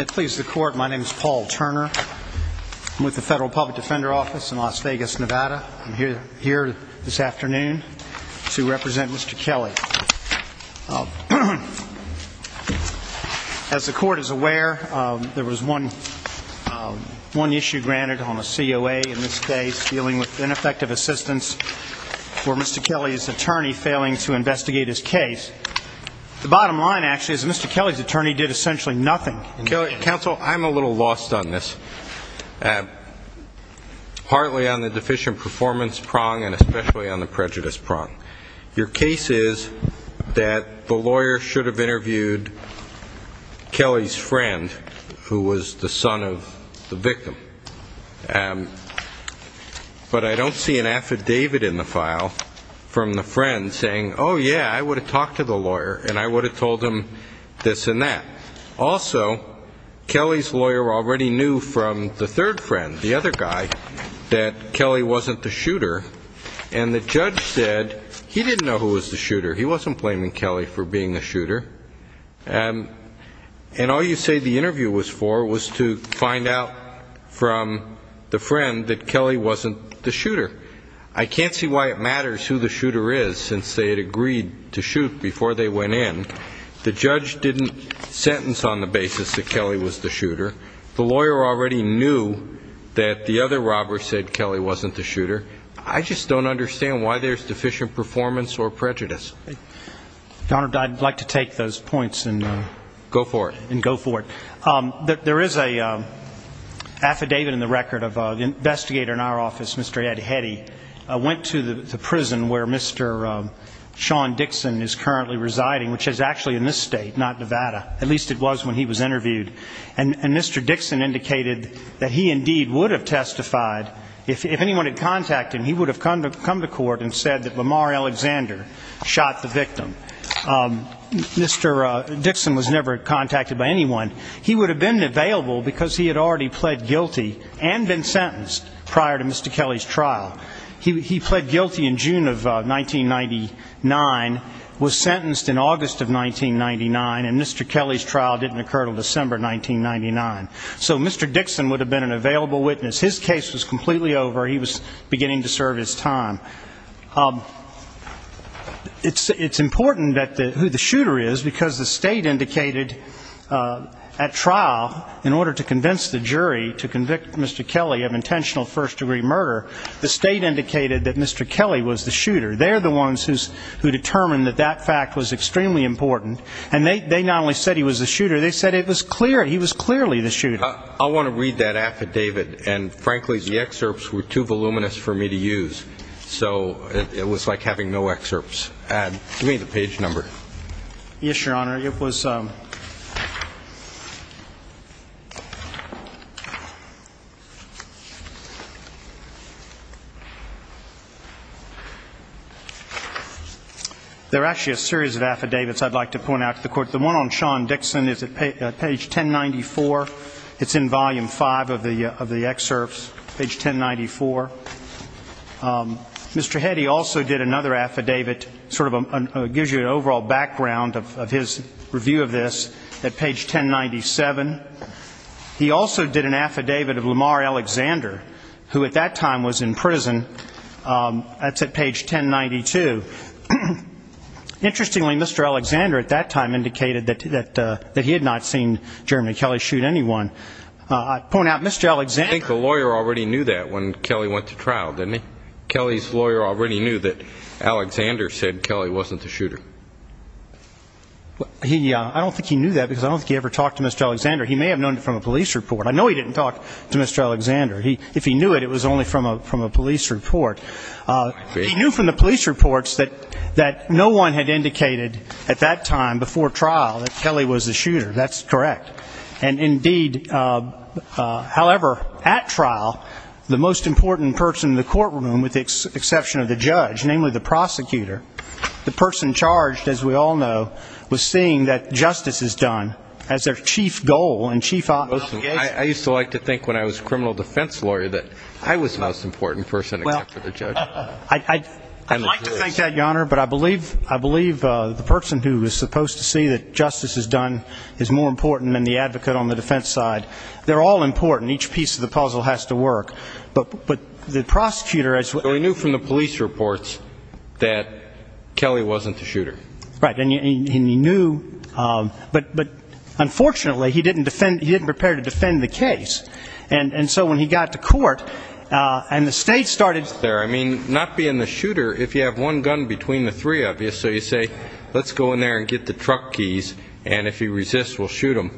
It pleases the Court, my name is Paul Turner. I'm with the Federal Public Defender Office in Las Vegas, Nevada. I'm here this afternoon to represent Mr. Kelly. As the Court is aware, there was one issue granted on the COA in this case, dealing with ineffective assistance for Mr. Kelly's attorney failing to investigate his case. The bottom line, actually, is Mr. Kelly's attorney did essentially nothing. Judge Goldberg Counsel, I'm a little lost on this, partly on the deficient performance prong and especially on the prejudice prong. Your case is that the lawyer should have interviewed Kelly's friend, who was the son of the victim. But I don't see an affidavit in the file from the friend saying, oh yeah, I would have talked to the lawyer and I would have told him this and that. Also, Kelly's lawyer already knew from the third friend, the other guy, that Kelly wasn't the shooter, and the judge said he didn't know who was the shooter. He wasn't blaming Kelly for being the shooter. And all you say the interview was for was to find out from the friend that Kelly wasn't the shooter. I can't see why it matters who the shooter is, since they had agreed to shoot before they went in. The judge didn't sentence on the basis that Kelly was the shooter. The lawyer already knew that the other robber said Kelly wasn't the shooter. I just don't understand why there's deficient performance or prejudice. MR. GOTTLIEB. Your Honor, I'd like to take those points and go for it. There is an affidavit in the record of an investigator in our office, Mr. Ed Hetty, went to the prison where Mr. Sean Dixon is currently residing, which is actually in this state, not Nevada. At least it was when he was interviewed. And Mr. Dixon indicated that he indeed would have testified if anyone had contacted him. He would have come to court and said that Lamar Alexander shot the victim. Mr. Dixon was never contacted by anyone. He would have been available because he had already pled guilty and been sentenced prior to Mr. Kelly's trial. He pled guilty in June of 1999, was sentenced in August of 1999, and Mr. Kelly's trial didn't occur until December 1999. So Mr. Dixon would have been an available witness. His case was completely over. He was beginning to serve his time. It's important who the shooter is, because the state indicated at trial, in order to convince the jury to convict Mr. Kelly of intentional first-degree murder, the state indicated that Mr. Kelly was the shooter. They're the ones who determined that that he was the shooter. They said it was clear. He was clearly the shooter. I want to read that affidavit. And frankly, the excerpts were too voluminous for me to use. So it was like having no excerpts. Give me the page number. Yes, Your Honor. It was ‑‑ there are actually a series of affidavits I'd like to point out to the Court. The one on Sean Dixon is at page 1094. It's in Volume 5 of the excerpts, page 1094. Mr. Hetty also did another affidavit, sort of gives you an overall background of his review of this, at page 1097. He also did an affidavit of Lamar Alexander, who at that time was in prison. That's at page 1092. Interestingly, Mr. Alexander at that time indicated that he had not seen Jeremy Kelly shoot anyone. I'd point out, Mr. Alexander ‑‑ I think the lawyer already knew that when Kelly went to trial, didn't he? Kelly's lawyer already knew that Alexander said Kelly wasn't the shooter. He ‑‑ I don't think he knew that, because I don't think he ever talked to Mr. Alexander. He may have known it from a police report. I know he didn't talk to Mr. Alexander. If he knew it, it was only from a police report. He knew from the police reports that no one had indicated at that time before trial that Kelly was the shooter. That's correct. And indeed, however, at trial, the most important person in the courtroom, with the exception of the judge, namely the prosecutor, the person charged, as we all know, was seeing that justice is done as their chief goal and chief obligation. I used to like to think when I was a criminal defense lawyer that I was the most important person, except for the judge. I'd like to think that, Your Honor, but I believe the person who was supposed to see that justice is done is more important than the advocate on the defense side. They're all important. Each piece of the puzzle has to work. But the prosecutor ‑‑ So he knew from the police reports that Kelly wasn't the shooter. Right. And he knew ‑‑ but unfortunately he didn't defend ‑‑ he didn't prepare to defend the case. And so when he got to court, and the state started ‑‑ I mean, not being the shooter, if you have one gun between the three of you, so you say, let's go in there and get the truck keys, and if he resists, we'll shoot him,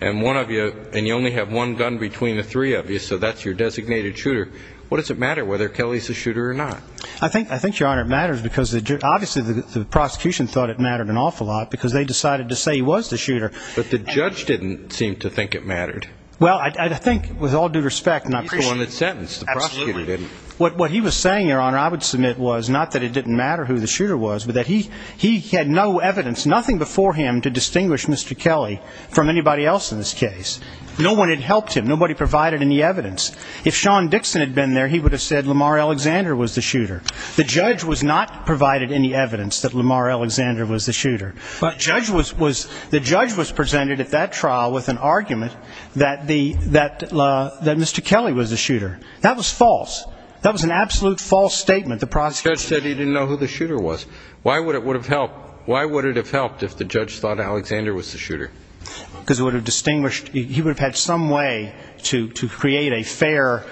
and one of you ‑‑ and you only have one gun between the three of you, so that's your designated shooter, what does it matter whether Kelly is the shooter or not? I think, Your Honor, it matters, because the ‑‑ obviously the prosecution thought it mattered an awful lot, because they decided to say he was the shooter. But the judge didn't seem to think it mattered. Well, I think, with all due respect, and I appreciate ‑‑ He's the one that sentenced. The prosecutor didn't. Absolutely. What he was saying, Your Honor, I would submit, was not that it didn't matter who the shooter was, but that he had no evidence, nothing before him to distinguish Mr. Kelly from anybody else in this case. No one had helped him. Nobody provided any evidence. If Sean Dixon had been there, he would have said Lamar Alexander was the shooter. The judge was not provided any evidence that Lamar Alexander was the shooter. But the judge was ‑‑ the judge was presented at that trial with an argument that Mr. Kelly was the shooter. That was false. That was an absolute false statement. The prosecution ‑‑ The judge said he didn't know who the shooter was. Why would it have helped if the judge thought Alexander was the shooter? Because it would have distinguished ‑‑ he would have had some way to create a fair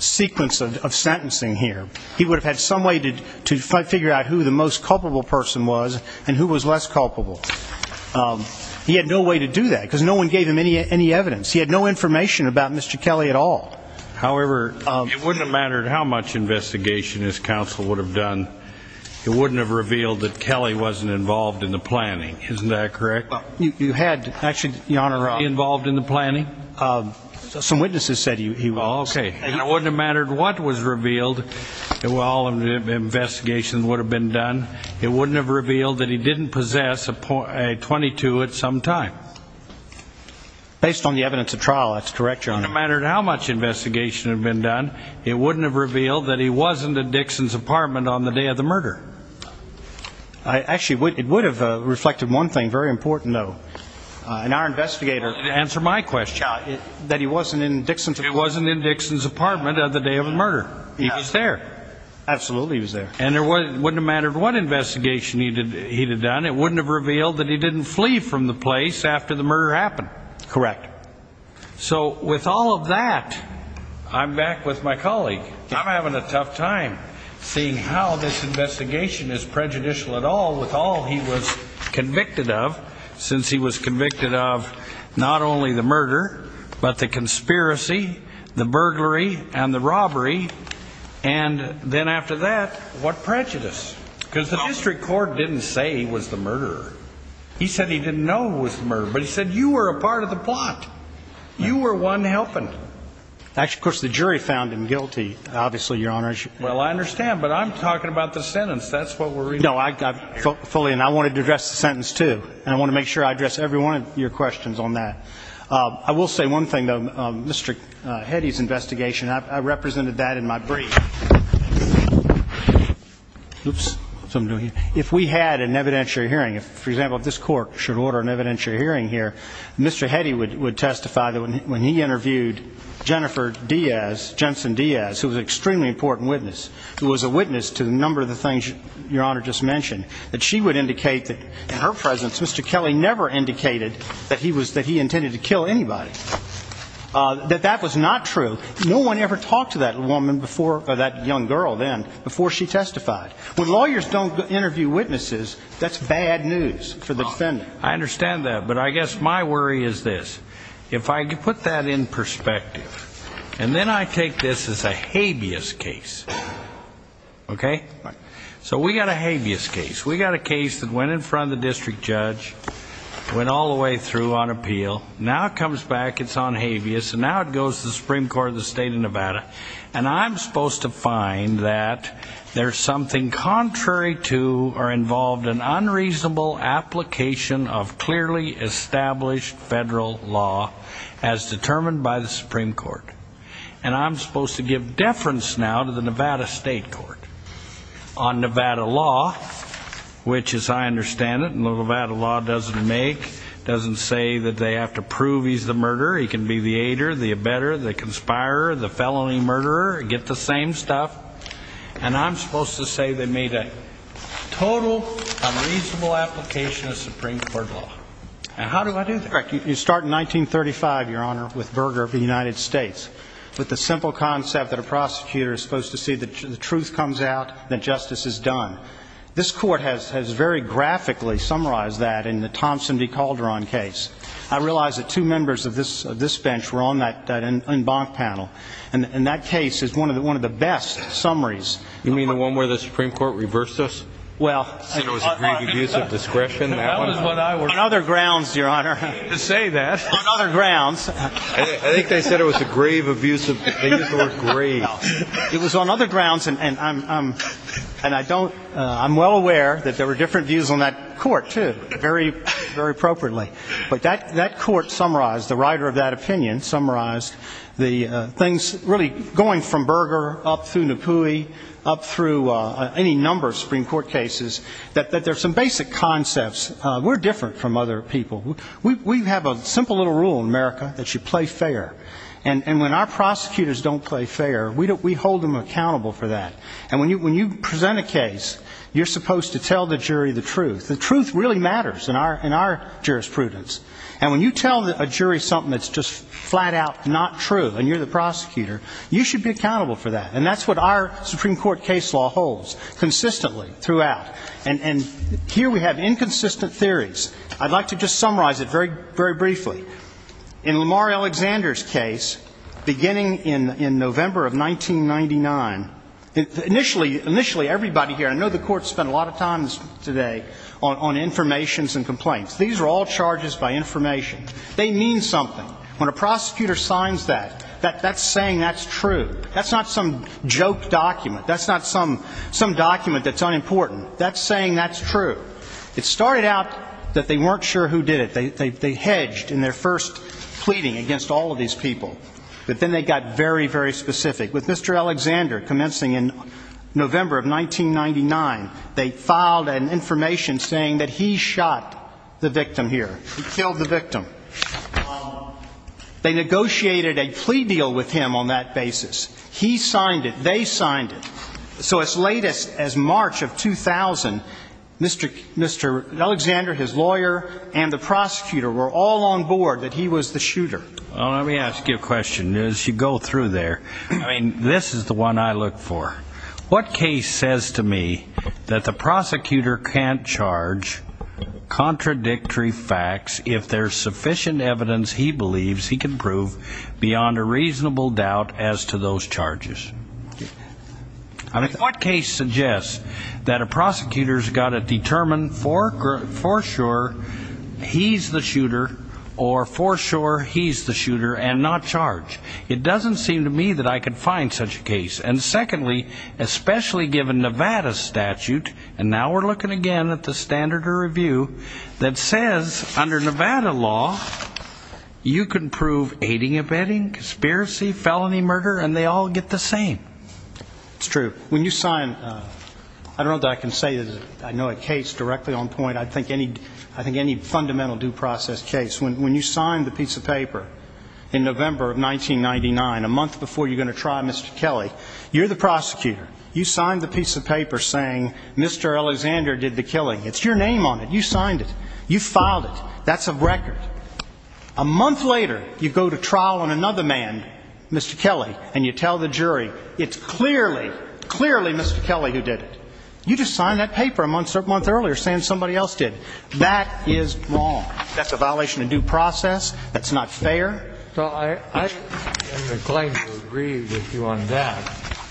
sequence of sentencing here. He would have had some way to figure out who the most culpable person was and who was less culpable. He had no way to do that, because no one gave him any evidence. He had no information about Mr. Kelly at all. However, it wouldn't have mattered how much investigation his counsel would have done. It wouldn't have revealed that Kelly wasn't involved in the planning. Isn't that correct? You had, actually, Your Honor ‑‑ He involved in the planning? Some witnesses said he was. Okay. And it wouldn't have mattered what was said. It wouldn't have revealed that he didn't possess a .22 at some time. Based on the evidence at trial, that's correct, Your Honor. It wouldn't have mattered how much investigation had been done. It wouldn't have revealed that he wasn't at Dixon's apartment on the day of the murder. Actually, it would have reflected one thing, very important, though. In our investigator ‑‑ Answer my question. That he wasn't in Dixon's apartment. He wasn't in Dixon's apartment on the day of the murder. He was there. Absolutely, he was there. And it wouldn't have mattered what investigation he had done. It wouldn't have revealed that he didn't flee from the place after the murder happened. Correct. So, with all of that, I'm back with my colleague. I'm having a tough time seeing how this investigation is prejudicial at all with all he was convicted of, since he was convicted of not only the murder, but the conspiracy, the burglary and the robbery, and then after that, what prejudice. Because the district court didn't say he was the murderer. He said he didn't know he was the murderer. But he said you were a part of the plot. You were one helping. Actually, of course, the jury found him guilty, obviously, Your Honor. Well, I understand. But I'm talking about the sentence. That's what we're ‑‑ No, I fully ‑‑ and I wanted to address the sentence, too. And I want to make sure I address every one of your questions on that. I will say one thing, though. Mr. Heddy's investigation, I represented that in my brief. If we had an evidentiary hearing, for example, if this court should order an evidentiary hearing here, Mr. Heddy would testify that when he interviewed Jennifer Diaz, Jensen Diaz, who was an extremely important witness, who was a witness to a number of the things Your Honor just mentioned, that she would indicate that in her presence, Mr. Kelly never indicated that he intended to kill anybody. That that was not true. No one ever talked to that woman before ‑‑ that young girl then before she testified. When lawyers don't interview witnesses, that's bad news for the defendant. I understand that. But I guess my worry is this. If I put that in perspective, and then I take this as a habeas case, okay? So we got a habeas case. We got a case that went in front of the district judge, went all the way through on appeal. Now it comes back, it's on habeas, and now it goes to the Supreme Court of the State of Nevada. And I'm supposed to find that there's something contrary to or involved in unreasonable application of clearly established federal law as determined by the Supreme Court. And I'm supposed to give deference now to the Nevada State Court on Nevada law, which as I understand it, and the Nevada law doesn't make, doesn't say that they have to prove he's the murderer. He can be the aider, the abetter, the conspirer, the felony murderer, get the same stuff. And I'm supposed to say they made a total unreasonable application of Supreme Court law. And how do I do that? You start in 1935, Your Honor, with Berger of the United States, with the simple concept that a prosecutor is supposed to see that the truth comes out, that justice is done. This Court has very graphically summarized that in the Thompson v. Calderon case. I realize that two members of this bench were on that embank panel. And that case is one of the best summaries. You mean the one where the Supreme Court reversed us? Well... It was a great abuse of discretion, that one. That was what I was... On other grounds, Your Honor. I hate to say that. On other grounds. I think they said it was a grave abuse of, they used the word grave. It was on other grounds, and I'm, and I don't, I'm well aware that there were different views on that Court, too, very, very appropriately. But that, that Court summarized, the writer of that opinion summarized the things, really going from Berger up through Napoui, up through any number of Supreme Court cases, that there's some basic concepts. We're different from other people. We have a simple little rule in America that you play fair. And when our prosecutors don't play fair, we hold them accountable for that. And when you present a case, you're supposed to tell the jury the truth. The truth really matters in our jurisprudence. And when you tell a jury something that's just flat-out not true, and you're the prosecutor, you should be accountable for that. And that's what our Supreme Court case law holds consistently throughout. And, and here we have inconsistent theories. I'd like to just summarize it very, very briefly. In Lamar Alexander's case, beginning in, in November of 1999, initially, initially everybody here, I know the Court spent a lot of time today on, on information and complaints. These are all charges by information. They mean something. When a prosecutor signs that, that, that's saying that's true. That's not some joke document. That's not some, some document that's unimportant. That's saying that's true. It started out that they weren't sure who did it. They, they, they hedged in their first pleading against all of these people. But then they got very, very specific. With Mr. Alexander, commencing in November of 1999, they filed an information saying that he shot the victim here. He killed the victim here. They had a plea deal with him on that basis. He signed it. They signed it. So as late as, as March of 2000, Mr., Mr. Alexander, his lawyer, and the prosecutor were all on board that he was the shooter. Well, let me ask you a question. As you go through there, I mean, this is the one I look for. What case says to me that the prosecutor can't charge contradictory facts if there's reasonable doubt as to those charges? I mean, what case suggests that a prosecutor's got to determine for, for sure he's the shooter, or for sure he's the shooter and not charge? It doesn't seem to me that I could find such a case. And secondly, especially given Nevada's statute, and now we're looking again at the standard of review, that says under Nevada law, you can prove aiding and abetting, conspiracy, felony murder, and they all get the same. It's true. When you sign, I don't know that I can say that I know a case directly on point. I think any, I think any fundamental due process case, when, when you sign the piece of paper in November of 1999, a month before you're going to try Mr. Kelly, you're the prosecutor. You signed the piece of paper saying Mr. Alexander did the killing. It's your name on it. You signed it. A month later, you go to trial on another man, Mr. Kelly, and you tell the jury, it's clearly, clearly Mr. Kelly who did it. You just signed that paper a month earlier saying somebody else did. That is wrong. That's a violation of due process. That's not fair. So I, I am inclined to agree with you on that,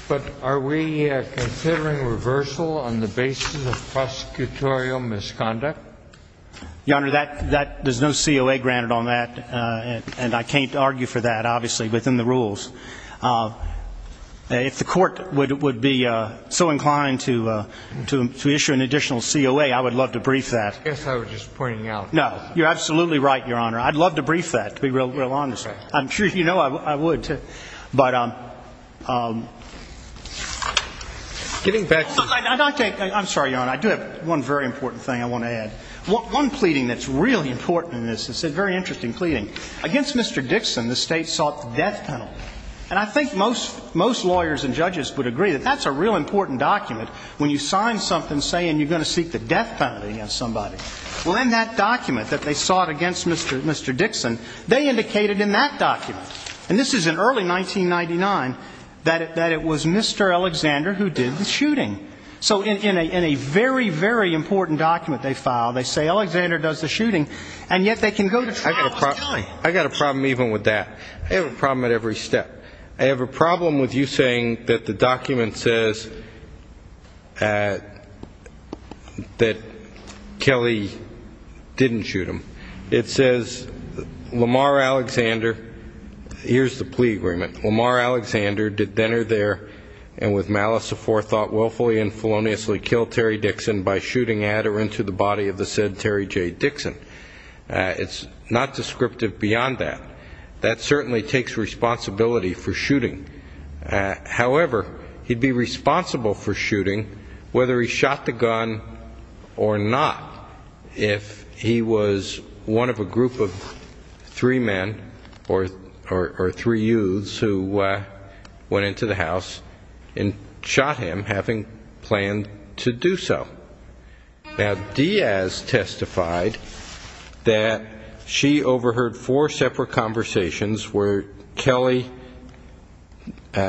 but are we considering reversal on the basis of prosecutorial misconduct? Your Honor, that, that, there's no COA granted on that, and I can't argue for that, obviously, within the rules. If the court would, would be so inclined to, to, to issue an additional COA, I would love to brief that. I guess I was just pointing out. No. You're absolutely right, Your Honor. I'd love to brief that, to be real, real honest. I'm sure you know I would, too. But I'm, I'm, I'm sorry, Your Honor. I do have one very important thing I want to add. One, one pleading that's really important in this, it's a very interesting pleading. Against Mr. Dixon, the State sought the death penalty. And I think most, most lawyers and judges would agree that that's a real important document when you sign something saying you're going to seek the death penalty against somebody. Well, in that document that they sought against Mr., Mr. Dixon, they indicated in that document, and this is in early 1999, that it, that it was Mr. Alexander who did the shooting. So in, in a, in a very, very important document they file, they say Alexander does the shooting, and yet they can go to trial with Kelly. I got a problem, I got a problem even with that. I have a problem at every step. I have a problem with you saying that the document says that Kelly didn't shoot him. It says Lamar Alexander, here's the plea agreement, Lamar Alexander did then or there and with Kelly and feloniously kill Terry Dixon by shooting at or into the body of the said Terry J. Dixon. It's not descriptive beyond that. That certainly takes responsibility for shooting. However, he'd be responsible for shooting whether he shot the gun or not if he was one of a group of three men or, or, or three youths who went into the house and shot him having planned to do so. Now Diaz testified that she overheard four separate conversations where Kelly,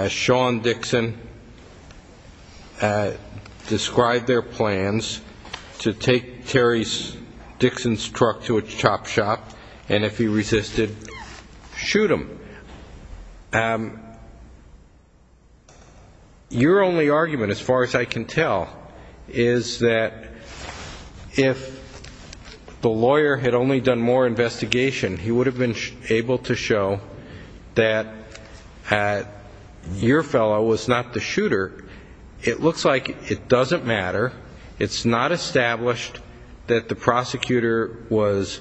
Sean Dixon described their plans to take Terry's, Dixon's truck to a chop shop and if he resisted, shoot him. But your only argument as far as I can tell is that if the lawyer had only done more investigation, he would have been able to show that your fellow was not the shooter. It looks like it doesn't matter. It's not established that the prosecutor was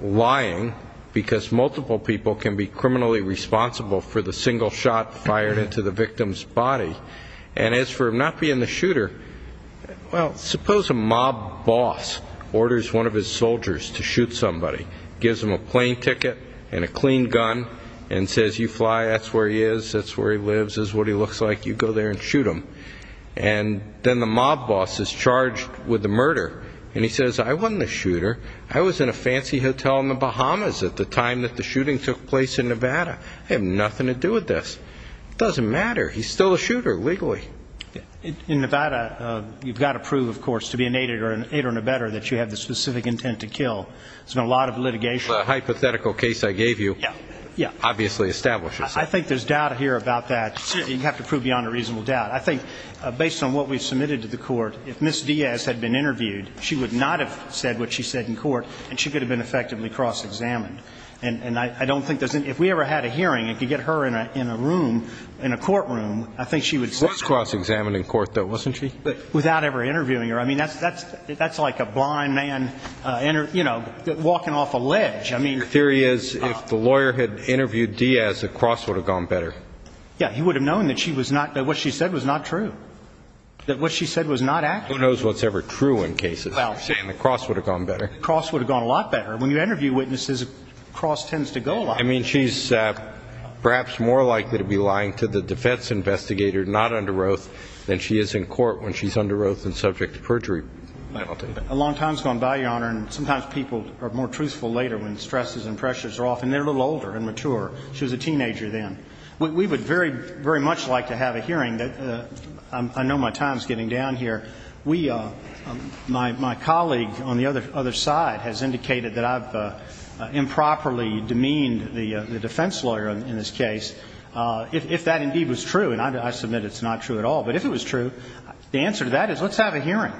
lying because multiple people can be criminally responsible for the single shot fired into the victim's body. And as for him not being the shooter, well, suppose a mob boss orders one of his soldiers to shoot somebody, gives them a plane ticket and a clean gun and says, you fly, that's where he is, that's where he lives, that's what he looks like, you go there and shoot him. And then the mob boss is charged with the murder and he says, I wasn't the shooter, I was in a fancy hotel in the Bahamas at the time that the shooting took place in Nevada. I have nothing to do with this. It doesn't matter, he's still a shooter legally. In Nevada, you've got to prove, of course, to be an aider in a better that you have the specific intent to kill. There's been a lot of litigation. The hypothetical case I gave you obviously establishes that. I think there's doubt here about that. You have to prove beyond a reasonable doubt. I think based on what we submitted to the court, if Ms. Diaz had been interviewed, she would not have said what she said in court and she could have been effectively cross-examined. And I don't think there's any, if we ever had a hearing, if you get her in a room, in a courtroom, I think she would say. She was cross-examined in court though, wasn't she? Without ever interviewing her. I mean, that's like a blind man, you know, walking off a ledge. The theory is if the lawyer had interviewed Diaz, the cross would have gone better. Yeah, he would have known that what she said was not true. That what she said was not accurate. Who knows what's ever true in cases? You're saying the cross would have gone better. Cross would have gone a lot better. When you interview witnesses, cross tends to go a lot better. I mean, she's perhaps more likely to be lying to the defense investigator, not under oath, than she is in court when she's under oath and subject to perjury penalty. A long time's gone by, Your Honor, and sometimes people are more truthful later when stresses and pressures are off, and they're a little older and mature. She was a teenager then. We would very much like to have a hearing. I know my time is getting down here. My colleague on the other side has indicated that I've improperly demeaned the defense lawyer in this case. If that indeed was true, and I submit it's not true at all, but if it was true, the answer to that is let's have a hearing.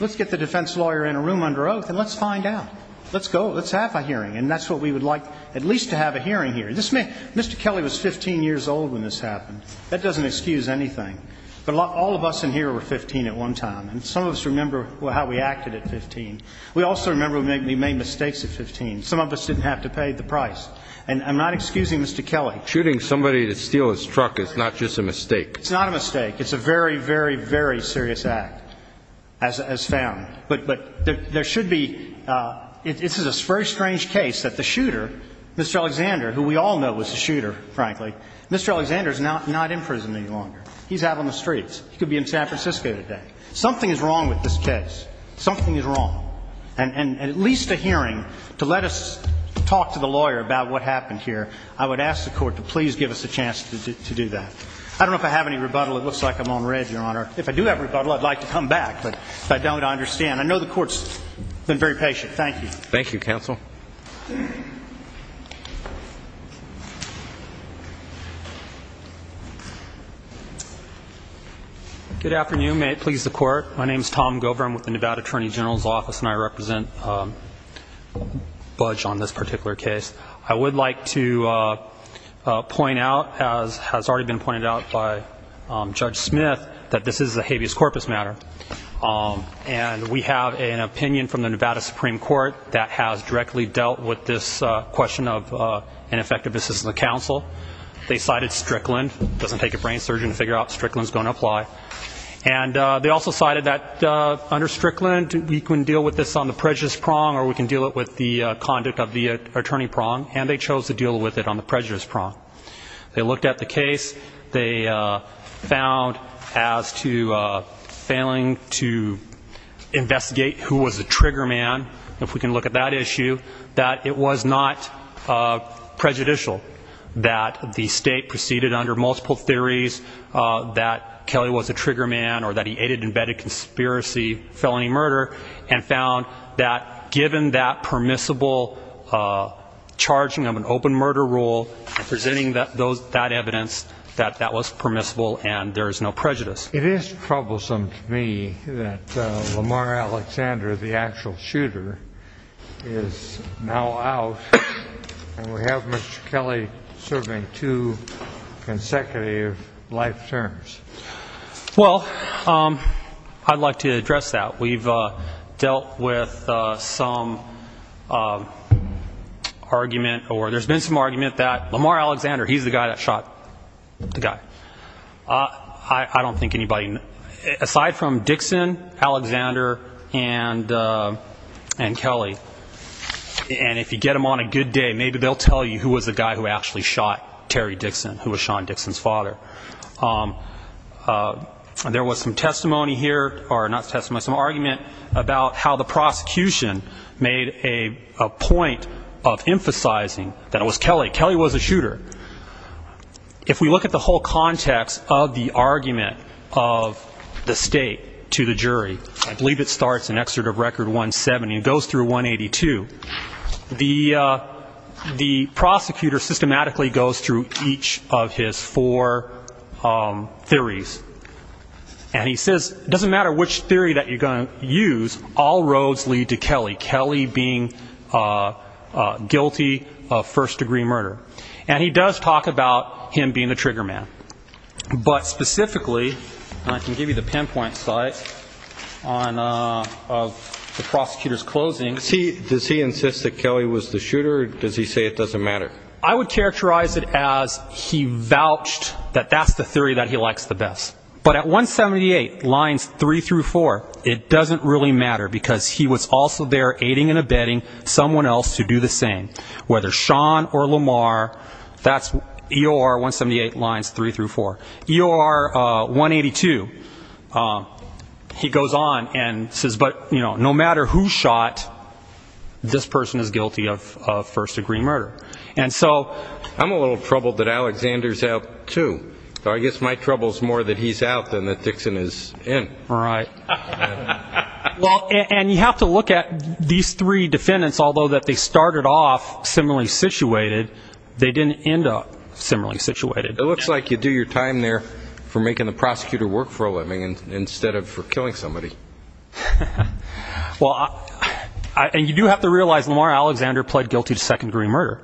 Let's get the defense lawyer in a room under oath and let's find out. Let's go. Let's have a hearing. And that's what we would like, at least, to have a hearing here. Mr. Kelly was 15 years old when this happened. That doesn't excuse anything. But all of us in here were 15 at one time. And some of us remember how we acted at 15. We also remember we made mistakes at 15. Some of us didn't have to pay the price. And I'm not excusing Mr. Kelly. Shooting somebody to steal his truck is not just a mistake. It's not a mistake. It's a very, very, very serious act as found. But there should be a very strange case that the shooter, Mr. Alexander, who we all know was the shooter, frankly, Mr. Alexander is not in prison any longer. He's out on the streets. He could be in San Francisco today. Something is wrong with this case. Something is wrong. And at least a hearing to let us talk to the lawyer about what happened here, I would ask the court to please give us a chance to do that. I don't know if I have any rebuttal. It looks like I'm on read, Your Honor. If I do have rebuttal, I'd like to come back. But if I don't, I understand. I know the court's been very patient. Thank you. Thank you, counsel. Good afternoon. May it please the court. My name is Tom Gover. I'm with the Nevada Attorney General's Office, and I represent Budge on this particular case. I would like to point out, as has already been pointed out by Judge Smith, that this is a Supreme Court that has directly dealt with this question of an effective assistance to counsel. They cited Strickland. It doesn't take a brain surgeon to figure out if Strickland is going to apply. And they also cited that under Strickland, we can deal with this on the prejudice prong, or we can deal with the conduct of the attorney prong. And they chose to deal with it on the prejudice prong. They looked at the case. They found as to failing to investigate who was the trigger man, if we can look at that issue, that it was not prejudicial that the state proceeded under multiple theories that Kelly was a trigger man or that he aided and abetted conspiracy felony murder, and found that given that permissible charging of an open murder rule, and presenting that evidence, that that was permissible and there is no prejudice. It is troublesome to me that Lamar Alexander, the actual shooter, is now out, and we have Mr. Kelly serving two consecutive life terms. Well, I'd like to address that. We've dealt with some argument, or there's been some argument that Lamar Alexander, he's the guy that shot the guy. I don't think anybody, aside from Dixon, Alexander, and Kelly, and if you get them on a good day, maybe they'll tell you who was the guy who actually shot Terry Dixon, who was Sean Dixon's father. There was some testimony here, or not testimony, some argument about how the prosecution made a point of emphasizing that it was Kelly. Kelly was a shooter. If we look at the whole context of the argument of the state to the jury, I believe it starts in Excerpt of Record 170 and goes through 182, the prosecutor systematically goes through each of his four theories. And he says, it doesn't matter which theory that you're going to use, all roads lead to Kelly, Kelly being guilty of first-degree murder. And he does talk about him being the trigger man. But specifically, and I can give you the pinpoint site of the prosecutor's closing. Does he insist that Kelly was the shooter, or does he say it doesn't matter? I would characterize it as he vouched that that's the theory that he likes the best. But at 178, lines three through four, it doesn't really matter, because he was also there aiding and abetting someone else to do the same. Whether Sean or Lamar, that's EOR 178, lines three through four. EOR 182, he goes on and says, but, you know, no matter who shot, this person is guilty of first-degree murder. And so I'm a little troubled that Alexander's out, too. I guess my trouble is more that he's out than that Dixon is in. Right. Well, and you have to look at these three defendants, although that they started off similarly situated, they didn't end up similarly situated. It looks like you do your time there for making the prosecutor work for a living instead of for killing somebody. Well, and you do have to realize Lamar Alexander pled guilty to second-degree murder.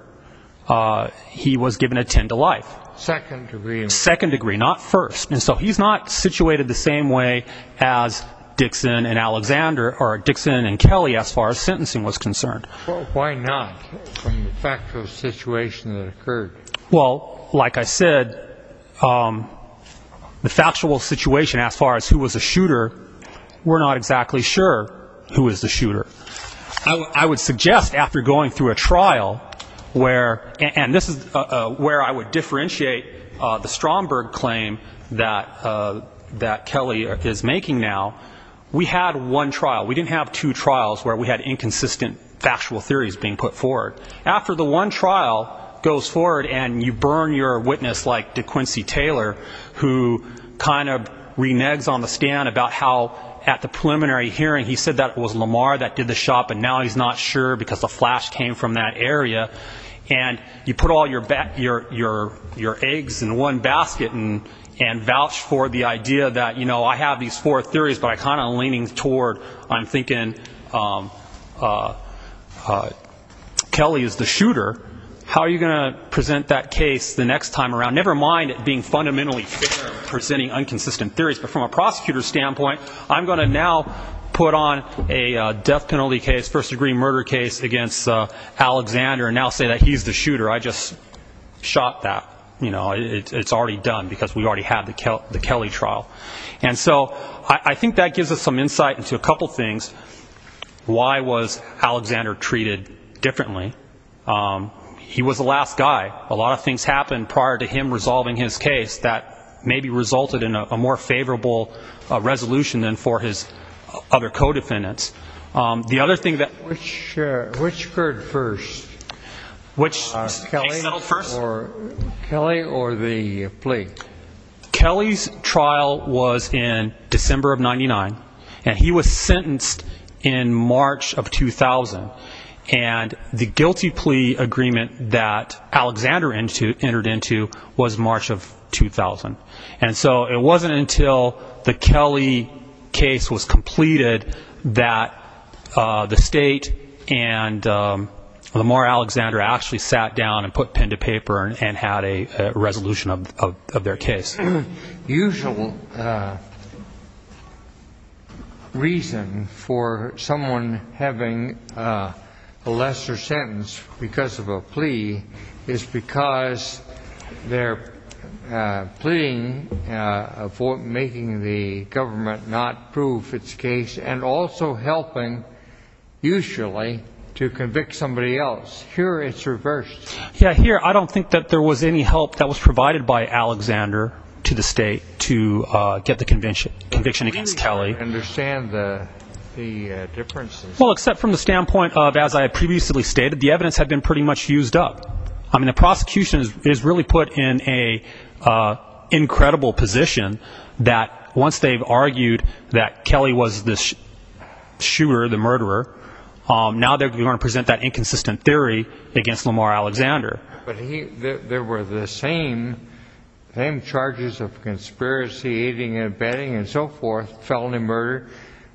He was given a 10 to life. Second-degree. Second-degree, not first. And so he's not situated the same way as Dixon and Alexander or Dixon and Kelly as far as sentencing was concerned. Well, why not, from the factual situation that occurred? Well, like I said, the factual situation as far as who was the shooter, we're not exactly sure who was the shooter. I would suggest after going through a trial where, and this is where I would differentiate the Stromberg claim that Kelly is making now, we had one trial. We didn't have two trials where we had inconsistent factual theories being put forward. After the one trial goes forward and you burn your witness like DeQuincy Taylor, who kind of reneges on the stand about how at the preliminary hearing he said that it was Lamar that did the shot, but now he's not sure because the flash came from that area. And you put all your eggs in one basket and vouch for the idea that, you know, I have these four theories, but I'm kind of leaning toward, I'm thinking, Kelly is the shooter. How are you going to present that case the next time around? Never mind it being fundamentally fair presenting inconsistent theories, but from a prosecutor's standpoint, I'm going to now put on a death penalty case, first-degree murder case against Alexander and now say that he's the shooter. I just shot that. You know, it's already done because we already had the Kelly trial. And so I think that gives us some insight into a couple things. Why was Alexander treated differently? He was the last guy. A lot of things happened prior to him resolving his case that maybe resulted in a more favorable resolution than for his other co-defendants. The other thing that... Which occurred first? Which case settled first? Kelly or the plea? Kelly's trial was in December of 99, and he was sentenced in March of 2000. And the guilty And so it wasn't until the Kelly case was completed that the state and Lamar Alexander actually sat down and put pen to paper and had a resolution of their case. The most usual reason for someone having a lesser sentence because of a plea is because they're pleading for making the government not prove its case and also helping, usually, to convict somebody else. Here it's reversed. Yeah, here, I don't think that there was any help that was provided by Alexander to the state to get the conviction against Kelly. I really don't understand the differences. Well, except from the standpoint of, as I had previously stated, the evidence had been pretty much used up. I mean, the prosecution is really put in an incredible position that once they've argued that Kelly was the shooter, the murderer, now they're going to present that inconsistent theory against Lamar Alexander. But there were the same charges of conspiracy, aiding and abetting, and so forth, felony murder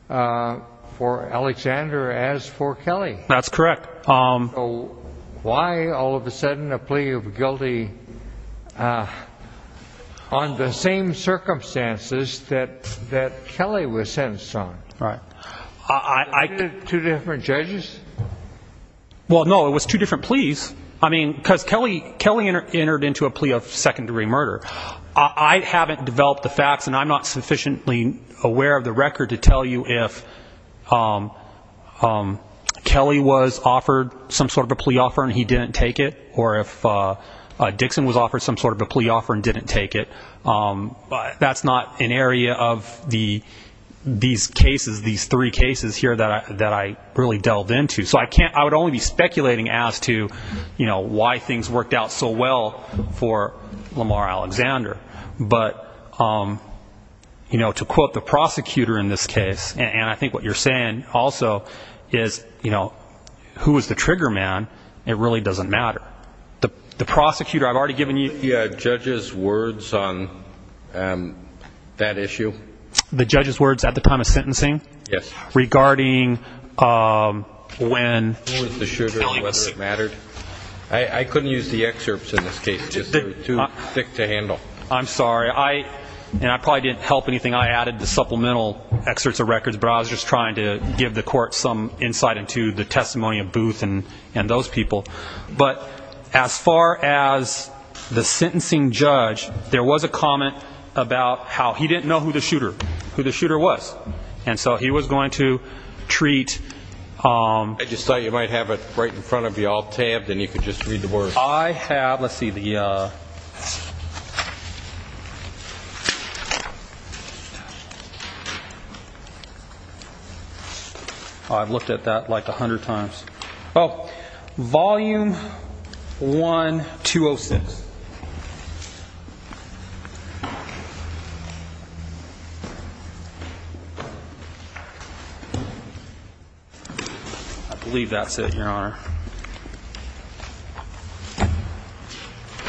for Alexander as for Kelly. That's correct. So why all of a sudden a plea of guilty on the same circumstances that Kelly was sentenced on? Right. Were there two different judges? Well, no, it was two different pleas. I mean, because Kelly entered into a plea of second degree murder. I haven't developed the facts, and I'm not sufficiently aware of the record to tell you if Kelly was offered some sort of a plea offer and he didn't take it, or if Dixon was offered some sort of a plea offer and didn't take it. But that's not an area of these cases, these three cases here that I really delved into. So I would only be speculating as to why things worked out so well for Lamar Alexander. But to quote the prosecutor in this case, and I think what you're saying also is, who was the trigger man, it really doesn't matter. The prosecutor, I've already given you- The judge's words on that issue? The judge's words at the time of sentencing? Yes. Regarding when- Who was the shooter, whether it mattered? I couldn't use the excerpts in this case. They were too thick to handle. I'm sorry. And I probably didn't help anything. I added the supplemental excerpts of records, but I was just trying to give the court some insight into the testimony of Booth and those people. But as far as the sentencing judge, there was a comment about how he didn't know who the shooter was. And so he was going to treat- I just thought you might have it right in front of you, all tabbed, and you could just read the words. I have- let's see, the- I've looked at that like a hundred times. Oh, volume 1206. I believe that's it, Your Honor.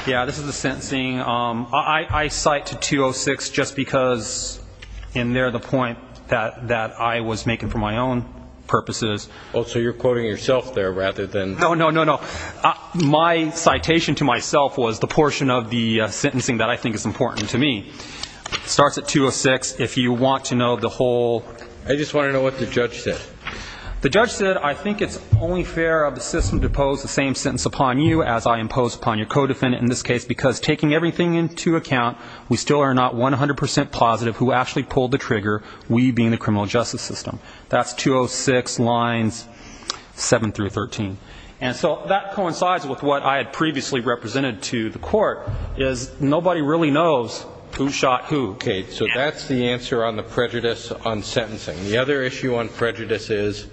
Yeah, this is the sentencing. I cite to 206 just because in there the point that I was making for my own purposes- Oh, so you're quoting yourself there rather than- No, no, no, no. My citation to myself was the portion of the sentencing that I think is important to me. It starts at 206. If you want to know the whole- I just want to know what the judge said. The judge said, I think it's only fair of the system to impose the same sentence upon you as I impose upon your co-defendant in this case because taking everything into account, we still are not 100% positive who actually pulled the trigger, we being the criminal justice system. That's 206 lines 7 through 13. And so that coincides with what I had previously represented to the court, is nobody really knows who shot who. Okay, so that's the answer on the prejudice on sentencing. The other issue on prejudice is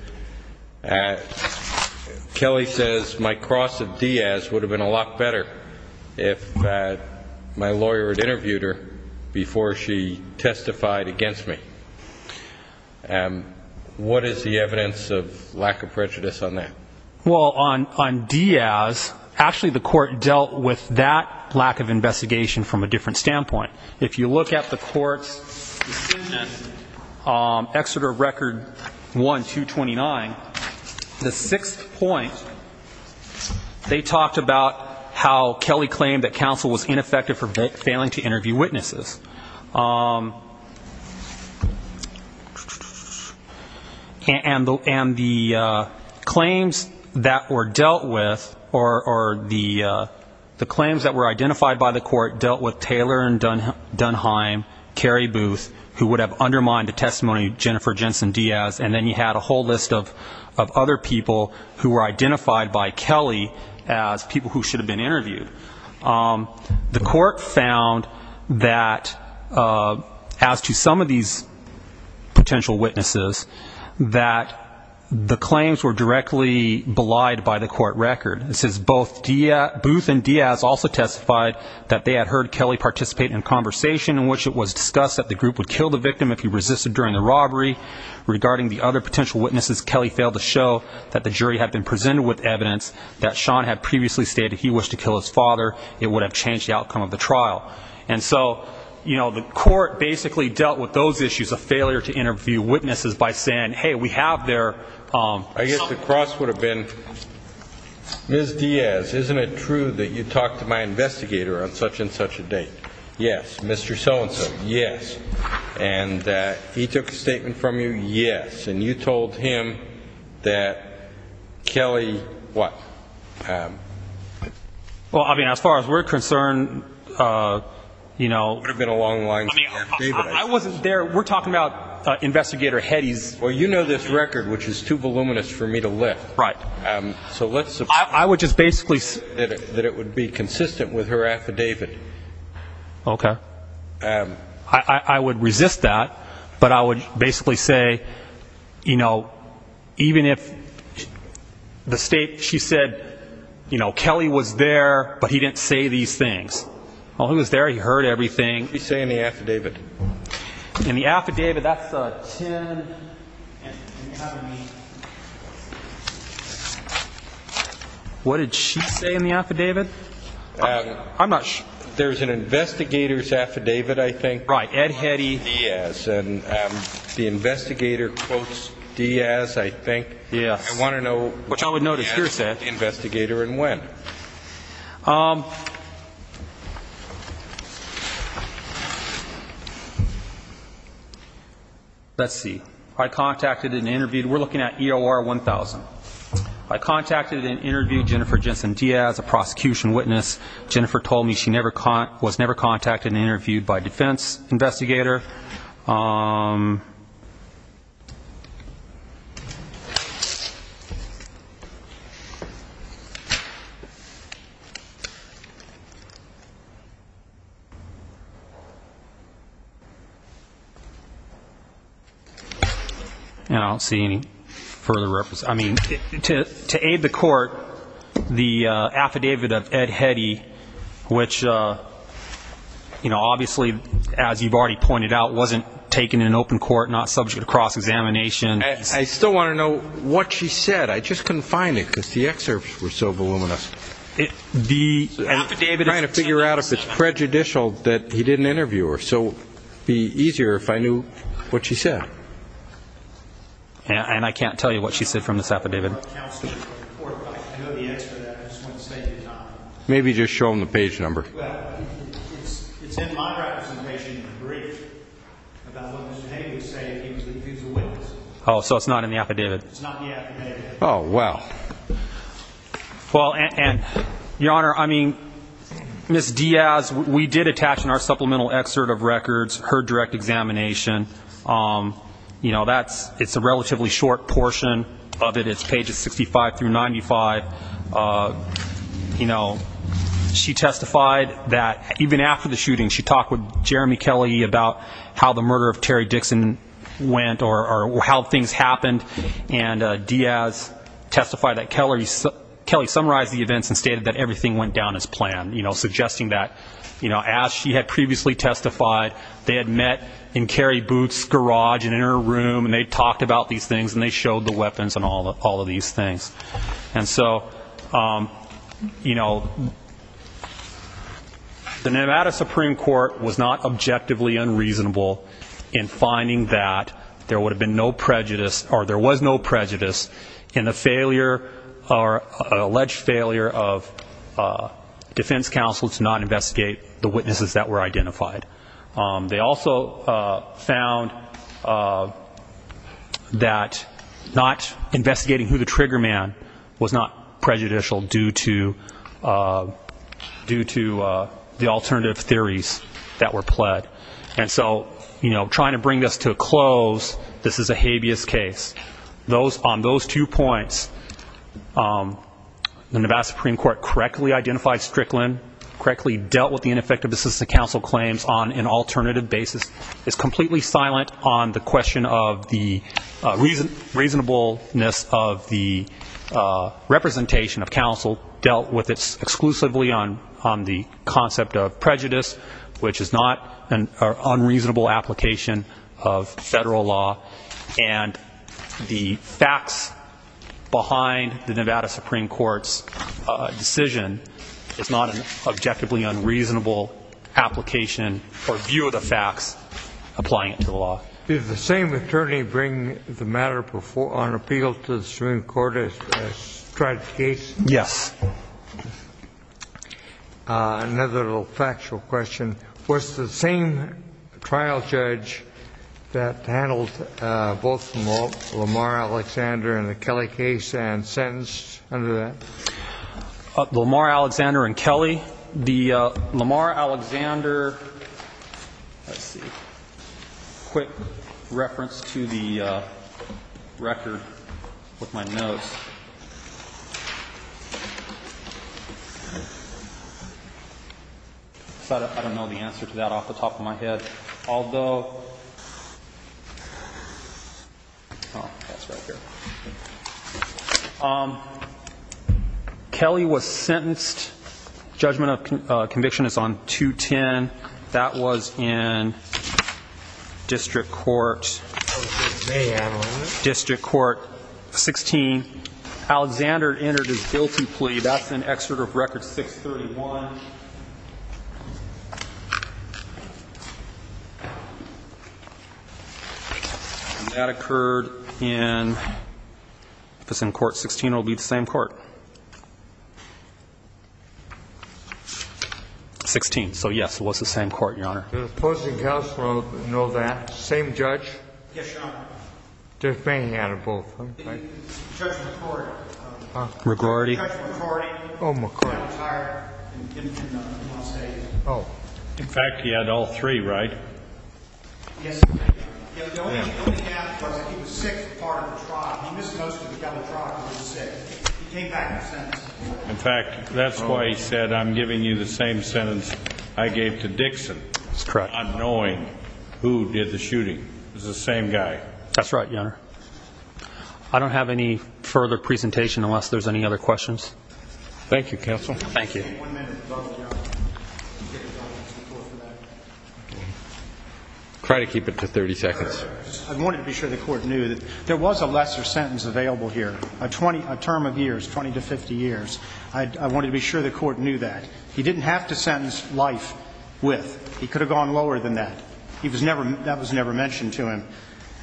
Kelly says, my cross of Diaz would have been a lot better if my lawyer had interviewed her before she testified against me. What is the evidence of lack of prejudice on that? Well, on Diaz, actually the court dealt with that lack of investigation from a different The sixth point, they talked about how Kelly claimed that counsel was ineffective for failing to interview witnesses. And the claims that were dealt with, or the claims that were identified by the court dealt with Taylor and Dunheim, Carrie Booth, who would have undermined the list of other people who were identified by Kelly as people who should have been interviewed. The court found that as to some of these potential witnesses, that the claims were directly belied by the court record. This is both Booth and Diaz also testified that they had heard Kelly participate in a conversation in which it was discussed that the group would kill the victim if he resisted during the robbery regarding the other potential witnesses. Kelly failed to show that the jury had been presented with evidence that Sean had previously stated he wished to kill his father. It would have changed the outcome of the trial. And so, you know, the court basically dealt with those issues of failure to interview witnesses by saying, Hey, we have there. I guess the cross would have been Ms. Diaz. Isn't it true that you talked to my investigator on such a date? Yes, Mr. So-and-so. Yes. And he took a statement from you. Yes. And you told him that Kelly, what? Well, I mean, as far as we're concerned, you know, it would have been a long line. I wasn't there. We're talking about investigator Hedges. Well, you know, this record, which is too voluminous for me to lift. Right. So I would just basically that it would be consistent with her affidavit. Okay. I would resist that. But I would basically say, you know, even if the state, she said, you know, Kelly was there, but he didn't say these things. Oh, he was there. He heard everything. He's saying the affidavit in the affidavit. That's him. What did she say in the affidavit? I'm not sure. There's an investigator's affidavit, I think. Right. Ed Heddy Diaz. And the investigator quotes Diaz, I think. Yes. I want to know. Which I would note is hearsay. Investigator and when. Let's see. I contacted and interviewed. We're looking at EOR 1000. I contacted and interviewed Jennifer Jensen Diaz, a prosecution witness. Jennifer told me she was never contacted and interviewed. And I don't see any further reference. I mean, to aid the court, the affidavit of Ed Heddy, which, you know, obviously, as you've already pointed out, wasn't taken in open court, not subject to cross-examination. I still want to know what she said. I just couldn't find it because the excerpts were so voluminous. The affidavit. Trying to figure out if it's prejudicial that he didn't interview her. So it would be easier if I knew what she said. And I can't tell you what she said from this affidavit. Maybe just show him the page number. Oh, so it's not in the affidavit. Oh, wow. Well, and your honor, I mean, Miss Diaz, we did attach in our supplemental excerpt of records her direct examination. You know, that's it's a relatively short portion of it. It's pages 65 through 95. You know, she testified that even after the shooting, she talked with Jeremy Kelly about how the murder of Terry Dixon went or how things happened. And Diaz testified that Kelly summarized the events and stated that everything went down as planned, you know, suggesting that, you know, as she had previously testified, they had met in Carrie Booth's garage and in her room and they talked about these things and they showed the weapons and all of in finding that there would have been no prejudice or there was no prejudice in the failure or alleged failure of defense counsel to not investigate the witnesses that were identified. They also found that not investigating who the trigger man was not prejudicial due to the alternative theories that were pled. And so, you know, trying to bring us to a close, this is a habeas case. Those on those two points, the Nevada Supreme Court correctly identified Strickland, correctly dealt with the ineffective assistant counsel claims on an alternative basis is completely silent on the question of the reason reasonableness of the representation of counsel dealt with it exclusively on on the concept of prejudice, which is not an unreasonable application of federal law. And the facts behind the Nevada Supreme Court's decision is not an objectively unreasonable application or view of the facts applying to the law. Did the same attorney bring the matter before on appeal to the Supreme Court? Yes. Another little factual question. What's the same trial judge that handled both Lamar Alexander and the Kelly case and sentenced under that Lamar Alexander and Kelly, the Lamar Alexander. Let's see. Quick reference to the record with my notes. So I don't know the answer to that off the top of my head, although. Oh, that's right here. Kelly was sentenced. Judgment of conviction is on 210. That was in District Court District Court 16. Alexander entered his guilty plea. That's an excerpt of record 631. And that occurred in this in Court 16 will be the same court. 16. So, yes, it was the same court, Your Honor. The opposing counsel know that same judge. Yes, Your Honor. They're banging out of both. McCarty. Oh, my God. Oh, in fact, he had all three, right? Yes. In fact, that's why he said, I'm giving you the same sentence I gave to Dixon. That's correct. I'm knowing who did the shooting is the same guy. That's right, Your Honor. I don't have any further presentation unless there's any other questions. Thank you, counsel. Thank you. Try to keep it to 30 seconds. I wanted to be sure the court knew that there was a lesser sentence available here. A term of years, 20 to 50 years. I wanted to be sure the court knew that he didn't have to sentence life with. He could have gone lower than that. He was never. That was never mentioned to him.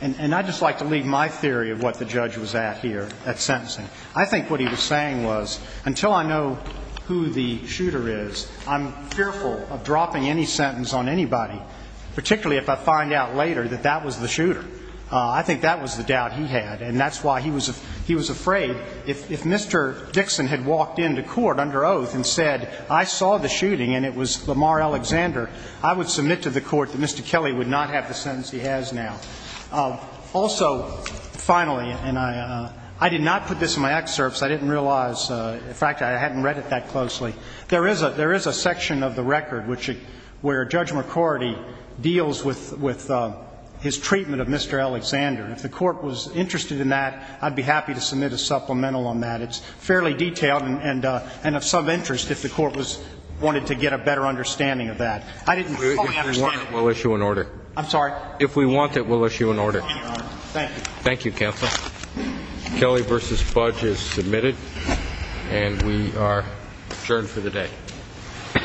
And I just like to leave my theory of what the judge was at here at sentencing. I think what he was saying was until I know who the shooter is, I'm fearful of dropping any sentence on anybody, particularly if I find out later that that was the shooter. I think that was the doubt he had. And that's why he was he was afraid if Mr. Dixon had walked into court under oath and said, I saw the shooting and it was Lamar Alexander, I would submit to the court that Mr. Kelly would not have the sentence he has now. Also, finally, and I did not put this in my excerpts. I didn't realize. In fact, I hadn't read it that closely. There is a there is a section of the record which where Judge McCordy deals with with his treatment of Mr. Alexander. If the court was interested in that, I'd be happy to submit a supplemental on that. It's fairly detailed and and of some interest if the court was wanted to get a better understanding of that. I didn't. We'll issue an order. I'm sorry. If we want it, we'll issue an order. Thank you. Thank you, counsel. Kelly versus Fudge is submitted and we are adjourned for the day. Mm hmm. Let's see here though. That's how it was, yeah.